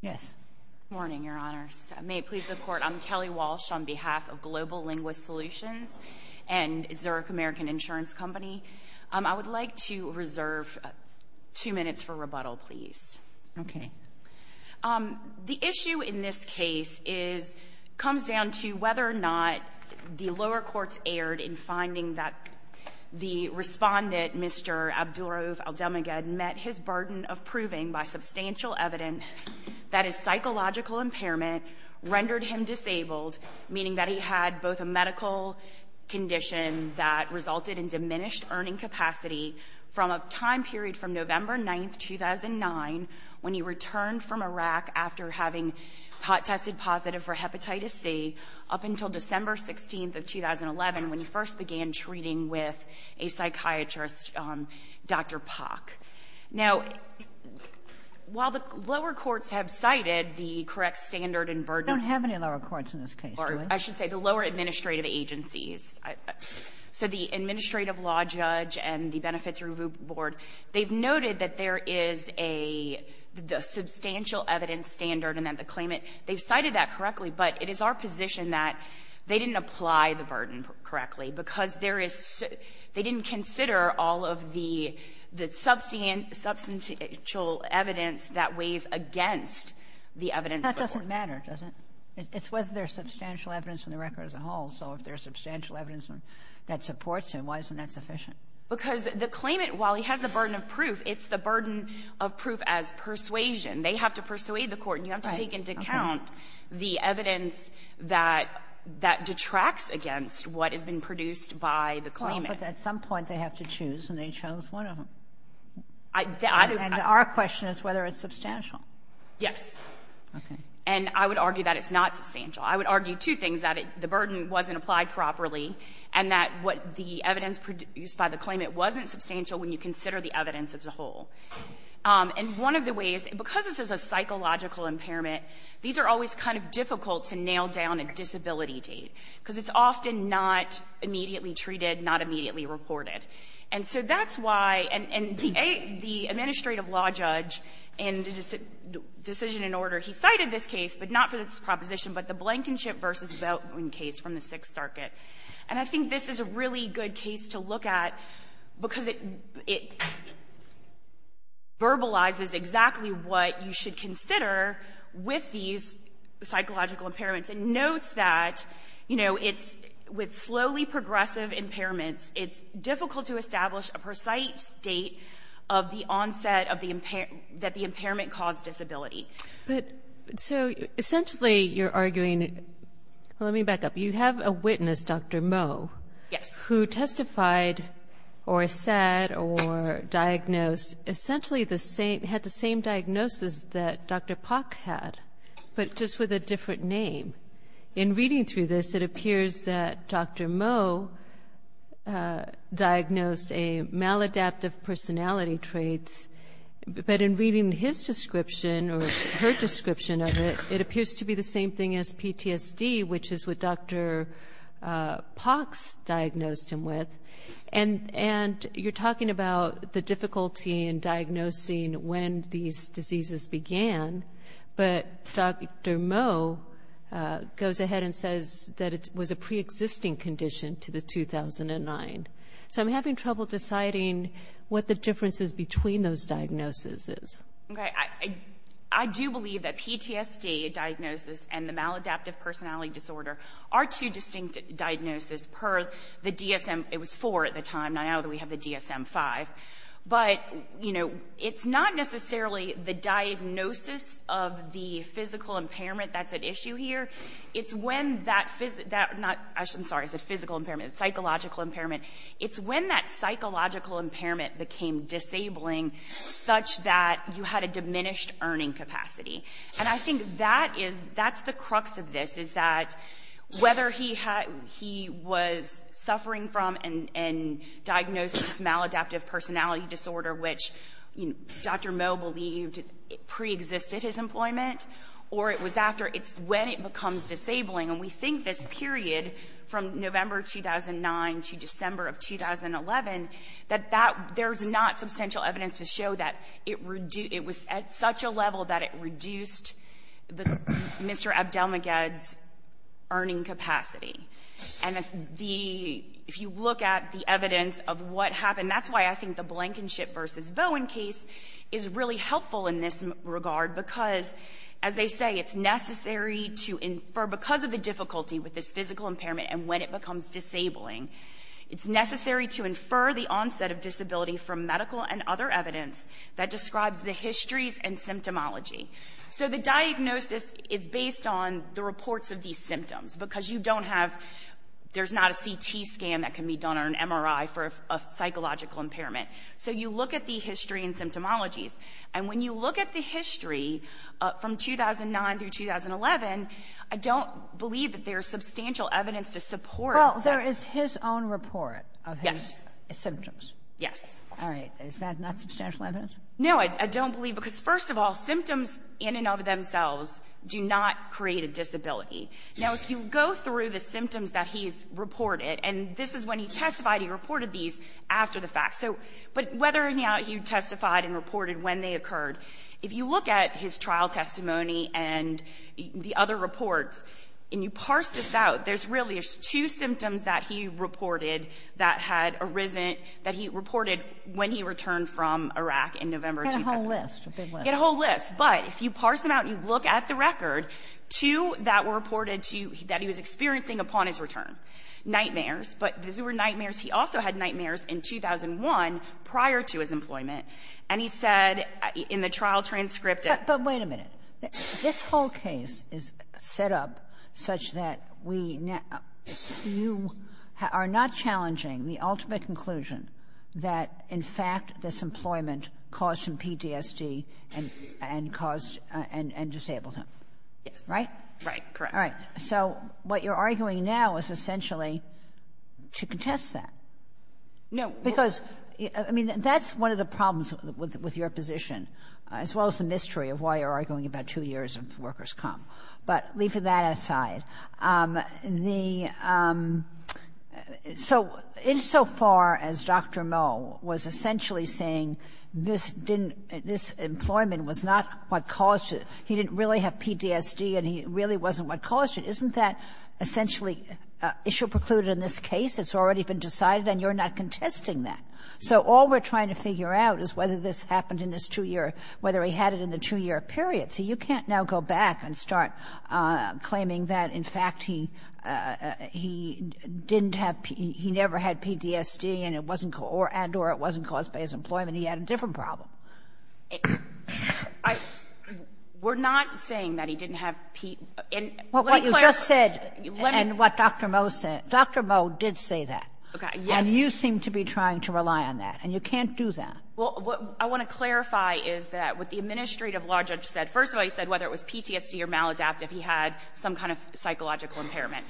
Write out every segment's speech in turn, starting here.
Yes. Good morning, Your Honors. May it please the Court, I'm Kelly Walsh on behalf of Global Linguist Solutions and Zurich American Insurance Company. I would like to reserve two minutes for rebuttal, please. Okay. The issue in this case comes down to whether or not the lower courts erred in finding that the respondent, Mr. Abdulraouf Abdelmeged, met his burden of proving by substantial evidence that his psychological impairment rendered him disabled, meaning that he had both a medical condition that resulted in diminished earning capacity from a time period from November 9, 2009, when he returned from Iraq after having tested positive for hepatitis C, up to a psychiatrist, Dr. Pock. Now, while the lower courts have cited the correct standard and burden of the law judge and the Benefits Review Board, they've noted that there is a substantial evidence standard and that the claimant, they've cited that correctly, but it is our position that they didn't apply the burden correctly because there is so they didn't consider all of the substantial evidence that weighs against the evidence. That doesn't matter, does it? It's whether there's substantial evidence in the record as a whole. So if there's substantial evidence that supports him, why isn't that sufficient? Because the claimant, while he has the burden of proof, it's the burden of proof as persuasion. They have to persuade the Court. And you have to take into account the evidence that detracts against what has been produced by the claimant. Kagan. But at some point, they have to choose, and they chose one of them. I do. And our question is whether it's substantial. Yes. Okay. And I would argue that it's not substantial. I would argue two things, that the burden wasn't applied properly, and that what the evidence produced by the claimant wasn't substantial when you consider the evidence as a whole. And one of the ways, because this is a psychological impairment, these are always kind of difficult to nail down a disability date, because it's often not immediately treated, not immediately reported. And so that's why the administrative law judge in the decision in order, he cited this case, but not for this proposition, but the Blankenship v. Zeldwin case from the Sixth Circuit. And I think this is a really good case to look at, because it verbalizes exactly what you should consider with these psychological impairments. And note that, you know, it's with slowly progressive impairments, it's difficult to establish a precise date of the onset of the impairment, that the impairment caused disability. Kagan. But so essentially you're arguing, let me back up. You have a witness, Dr. Moe, who testified or said or diagnosed, essentially the same, had the same diagnosis that Dr. Pock had, but just with a different name. In reading through this, it appears that Dr. Moe diagnosed a maladaptive personality trait, but in reading his description or her description of it, it appears to be the same thing as PTSD, which is what Dr. Pock's diagnosed him with. And you're talking about the difficulty in diagnosing when these diseases began. But Dr. Moe goes ahead and says that it was a preexisting condition to the 2009. So I'm having trouble deciding what the difference is between those diagnoses. Okay. I do believe that PTSD diagnosis and the maladaptive personality disorder are two distinct diagnoses per the DSM. It was four at the time. Now we have the DSM-5. But, you know, it's not necessarily the diagnosis of the physical impairment that's at issue here. It's when that physical, not, I'm sorry, I said physical impairment, it's psychological impairment. It's when that psychological impairment became disabling such that you had a diminished earning capacity. And I think that is, that's the crux of this, is that whether he was suffering from and diagnosed with this maladaptive personality disorder, which, you know, Dr. Moe believed preexisted his employment, or it was after, it's when it becomes disabling. And we think this period from November 2009 to December of 2011, that that, there's not substantial evidence to show that it reduced, it was at such a level that it reduced the, Mr. Abdelmagedd's earning capacity. And the, if you look at the evidence of what happened, that's why I think the Blankenship versus Vohen case is really helpful in this regard, because, as they say, it's necessary to infer, because of the difficulty with this physical impairment and when it becomes disabling, it's necessary to infer the onset of disability from medical and other evidence that describes the histories and symptomology. So the diagnosis is based on the reports of these symptoms, because you don't have, there's not a CT scan that can be done or an MRI for a psychological impairment. So you look at the history and symptomologies. And when you look at the history from 2009 through 2011, I don't believe that there's substantial evidence to support that. Sotomayor, Well, there is his own report of his symptoms. Yes. Sotomayor, All right. Is that not substantial evidence? No, I don't believe, because, first of all, symptoms in and of themselves do not create a disability. Now, if you go through the symptoms that he's reported, and this is when he testified, he reported these after the fact. So, but whether or not he testified and reported when they occurred, if you look at his trial testimony and the other reports, and you parse this out, there's really two symptoms that he reported that had arisen, that he reported when he returned from Iraq in November 2011. Sotomayor, He had a whole list, a big list. Sotomayor, He had a whole list. But if you parse them out and you look at the record, two that were reported to, that he was experiencing upon his return, nightmares. But these were nightmares. He also had nightmares in 2001 prior to his employment. And he said in the trial transcript that the way to make it, this whole case is set up such that we now, you are not challenging the ultimate conclusion that, in fact, this employment caused him PTSD and caused and disabled him. Yes. Right? Right. Correct. All right. So what you're arguing now is essentially to contest that. No. Because, I mean, that's one of the problems with your position, as well as the mystery of why you're arguing about two years of workers' comp. But leaving that aside, the so insofar as Dr. Moe was essentially saying this didn't this employment was not what caused it, he didn't really have PTSD and he really wasn't what caused it, isn't that essentially issue precluded in this case? It's already been decided and you're not contesting that. So all we're trying to figure out is whether this happened in this two-year or whether he had it in the two-year period. So you can't now go back and start claiming that, in fact, he didn't have he never had PTSD and it wasn't or and or it wasn't caused by his employment. He had a different problem. We're not saying that he didn't have PT. And let me clarify. Kagan, what you just said and what Dr. Moe said, Dr. Moe did say that. Okay. Yes. And you seem to be trying to rely on that. And you can't do that. Well, what I want to clarify is that what the administrative law judge said, first of all, he said whether it was PTSD or maladaptive, he had some kind of psychological impairment.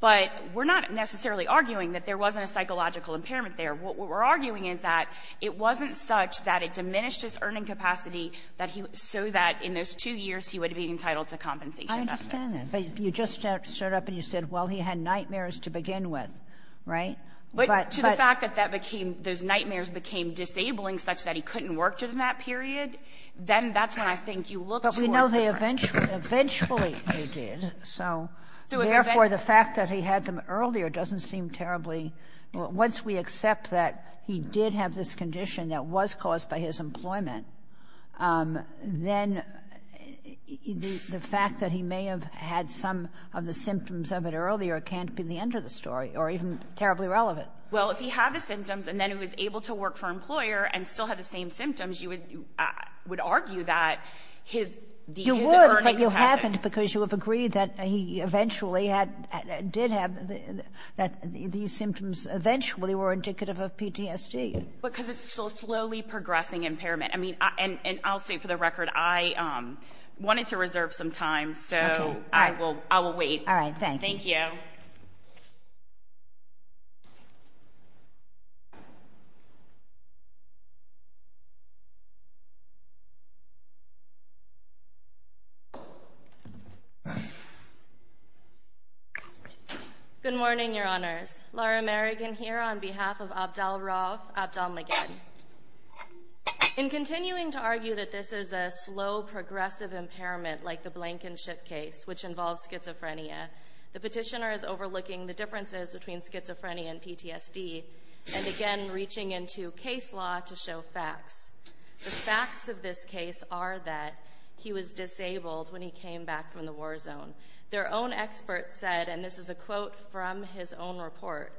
But we're not necessarily arguing that there wasn't a psychological impairment there. What we're arguing is that it wasn't such that it diminished his earning capacity that he so that in those two years he would be entitled to compensation. I understand that. But you just start up and you said, well, he had nightmares to begin with, right? But to the fact that that became those nightmares became disabling such that he couldn't work during that period, then that's when I think you look to a different point. But we know they eventually they did. So therefore, the fact that he had them earlier doesn't seem terribly, once we accept that he did have this condition that was caused by his employment, then the fact that he may have had some of the symptoms of it earlier can't be the end of the story or even terribly relevant. Well, if he had the symptoms and then he was able to work for an employer and still had the same symptoms, you would argue that his the earning capacity You would, but you haven't because you have agreed that he eventually had did have that these symptoms eventually were indicative of PTSD because it's so slowly progressing impairment. I mean, and I'll say for the record, I wanted to reserve some time. So I will I will wait. All right. Thank you. Good morning, Your Honors. Laura Merrigan here on behalf of Abdel-Rawf Abdel-Maged. In continuing to argue that this is a slow, progressive impairment like the Blankenship case, which involves schizophrenia, the petitioner is overlooking the differences between schizophrenia and PTSD and again reaching into case law to show facts. The facts of this case are that he was disabled when he came back from the war zone. Their own expert said, and this is a quote from his own report,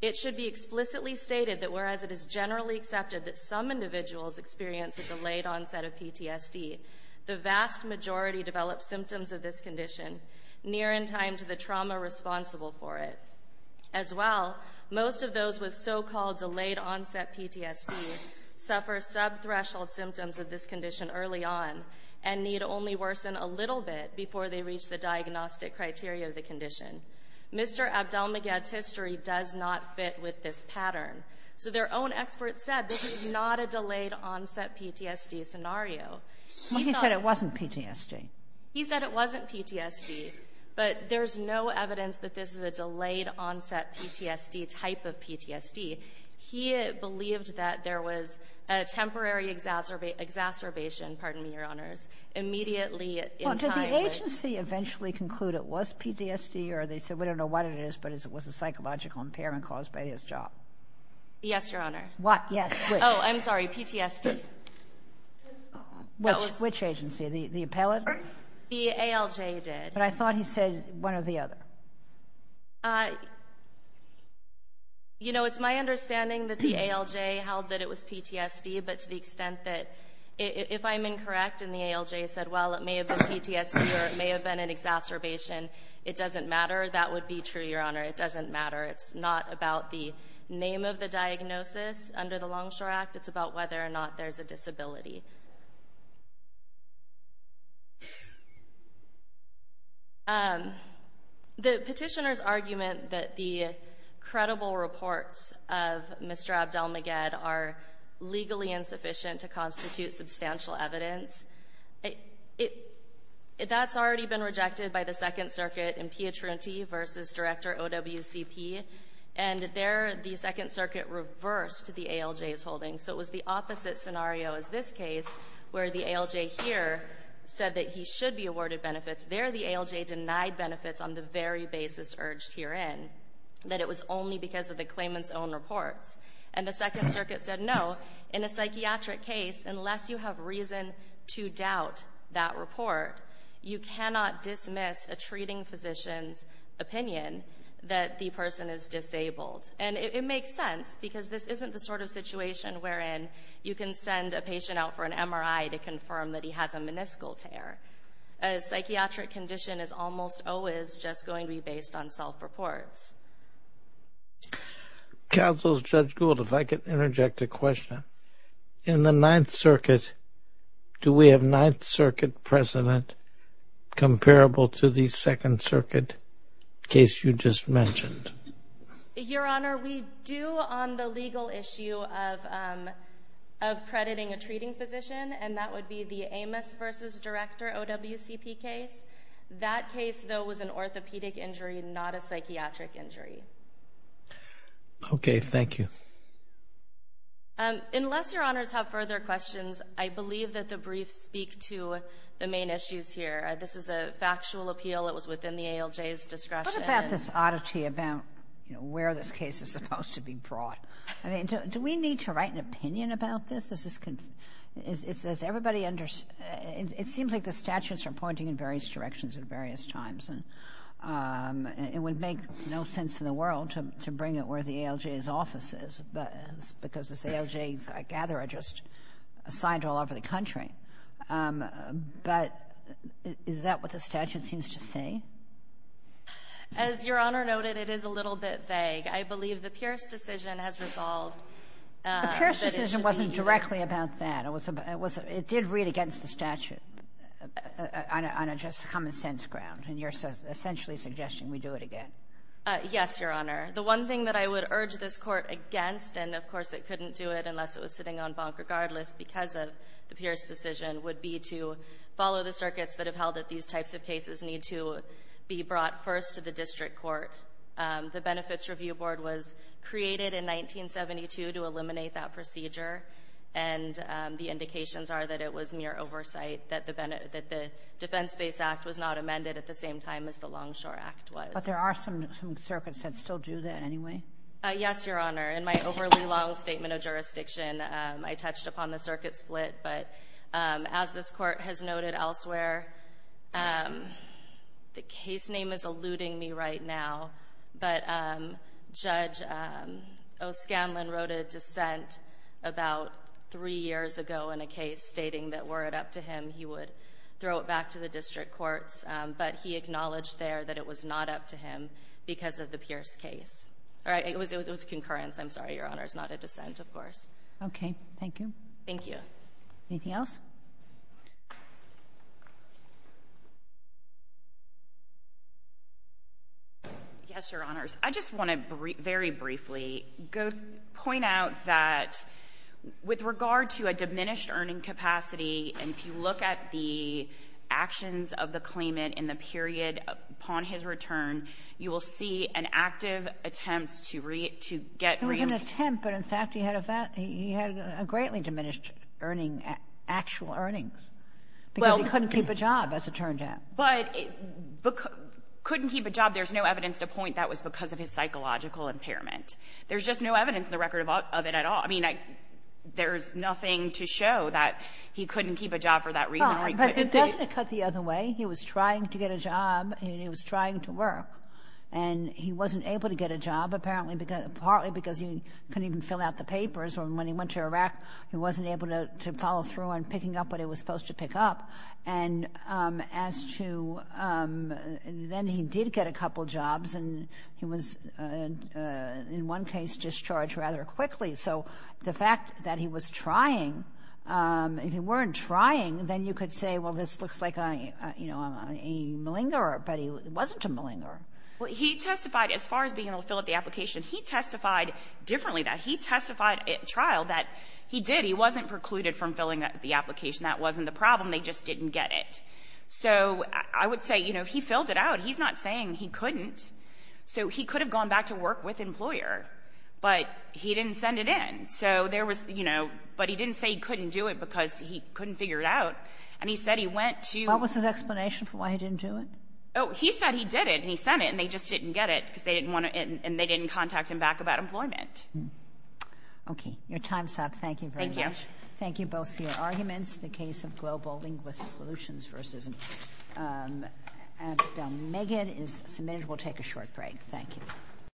it should be explicitly stated that whereas it is generally accepted that some individuals experience a delayed onset of PTSD, the vast majority develop symptoms of this condition near in time to the trauma responsible for it as well. Most of those with so-called delayed onset PTSD suffer subthreshold symptoms of this condition. Mr. Abdel-Maged's history does not fit with this pattern. So their own expert said this is not a delayed onset PTSD scenario. He said it wasn't PTSD. He said it wasn't PTSD, but there's no evidence that this is a delayed onset PTSD type of PTSD. He believed that there was a temporary exacerbation, pardon me, Your Honors, immediately in time. Did the agency eventually conclude it was PTSD or they said we don't know what it is, but it was a psychological impairment caused by his job? Yes, Your Honor. What? Yes. Oh, I'm sorry. PTSD. Which agency? The appellate? The ALJ did. But I thought he said one or the other. You know, it's my understanding that the ALJ held that it was PTSD, but to the extent that if I'm incorrect and the ALJ said, well, it may have been PTSD or it may have been an exacerbation, it doesn't matter. That would be true, Your Honor. It doesn't matter. It's not about the name of the diagnosis under the Longshore Act. It's about whether or not there's a disability. The petitioner's argument that the credible reports of Mr. Abdel-Maged are legally insufficient to constitute substantial evidence, that's already been rejected by the Second Circuit in Pietrunti v. Director OWCP, and there the Second Circuit reversed the ALJ's holding. So it was the opposite scenario as this case, where the ALJ here said that he should be awarded benefits. There the ALJ denied benefits on the very basis urged herein, that it was only because of the claimant's own reports. And the Second Circuit said, no, in a psychiatric case, unless you have reason to doubt that report, you cannot dismiss a treating physician's opinion that the person is disabled. And it makes sense because this isn't the sort of situation wherein you can send a patient out for an MRI to confirm that he has a meniscal tear. A psychiatric condition is almost always just going to be based on self-reports. Counsel Judge Gould, if I could interject a question. In the Ninth Circuit, do we have Ninth Circuit precedent comparable to the Second Circuit case you just mentioned? Your Honor, we do on the legal issue of crediting a treating physician, and that would be the Amos v. Director OWCP case. That case, though, was an orthopedic injury, not a psychiatric injury. Okay. Thank you. Unless Your Honors have further questions, I believe that the briefs speak to the main issues here. This is a factual appeal. It was within the ALJ's discretion. What about this oddity about, you know, where this case is supposed to be brought? I mean, do we need to write an opinion about this? It seems like the statutes are pointing in various directions at various times, and it would make no sense in the world to bring it where the ALJ's office is, because it's ALJ's, I gather, are just assigned all over the country. But is that what the statute seems to say? As Your Honor noted, it is a little bit vague. I believe the Pierce decision has resolved. The Pierce decision wasn't directly about that. It was about — it did read against the statute on a just common-sense ground, and you're essentially suggesting we do it again. Yes, Your Honor. The one thing that I would urge this Court against — and, of course, it couldn't do it unless it was sitting on bonk regardless because of the Pierce decision — would be to follow the circuits that have held that these types of cases need to be brought first to the district court. The Benefits Review Board was created in 1972 to eliminate that procedure, and the indications are that it was mere oversight, that the Defense-Based Act was not amended at the same time as the Longshore Act was. But there are some circuits that still do that anyway. Yes, Your Honor. In my overly long statement of jurisdiction, I touched upon the circuit split. But as this Court has noted elsewhere, the case name is eluding me right now, but Judge O'Scanlan wrote a dissent about three years ago in a case stating that were it up to him, he would throw it back to the district courts. But he acknowledged there that it was not up to him because of the Pierce case. All right. It was a concurrence. I'm sorry, Your Honor. It's not a dissent, of course. Okay. Thank you. Thank you. Anything else? Yes, Your Honors. I just want to very briefly go to point out that with regard to a diminished earning capacity, if you look at the actions of the claimant in the period upon his return, you will see an active attempt to get real to get real. He made an attempt, but, in fact, he had a greatly diminished earning, actual earnings, because he couldn't keep a job, as it turned out. But couldn't keep a job, there's no evidence to point that was because of his psychological impairment. There's just no evidence in the record of it at all. I mean, there's nothing to show that he couldn't keep a job for that reason. But it doesn't cut the other way. He was trying to get a job, and he was trying to work, and he wasn't able to get a job, apparently, partly because he couldn't even fill out the papers, or when he went to Iraq, he wasn't able to follow through on picking up what he was supposed to pick up. And as to then he did get a couple jobs, and he was, in one case, discharged rather quickly. So the fact that he was trying, if he weren't trying, then you could say, well, this looks like a, you know, a malingerer, but he wasn't a malingerer. Well, he testified, as far as being able to fill out the application, he testified differently than that. He testified at trial that he did. He wasn't precluded from filling out the application. That wasn't the problem. They just didn't get it. So I would say, you know, he filled it out. He's not saying he couldn't. So he could have gone back to work with the employer, but he didn't send it in. So there was, you know, but he didn't say he couldn't do it because he couldn't figure it out. And he said he went to the — What was his explanation for why he didn't do it? Oh, he said he did it, and he sent it, and they just didn't get it because they didn't want to — and they didn't contact him back about employment. Okay. Your time's up. Thank you very much. Thank you. Thank you both for your arguments. The case of Global Linguist Solutions v. Abdelmegid is submitted. We'll take a short break. Thank you.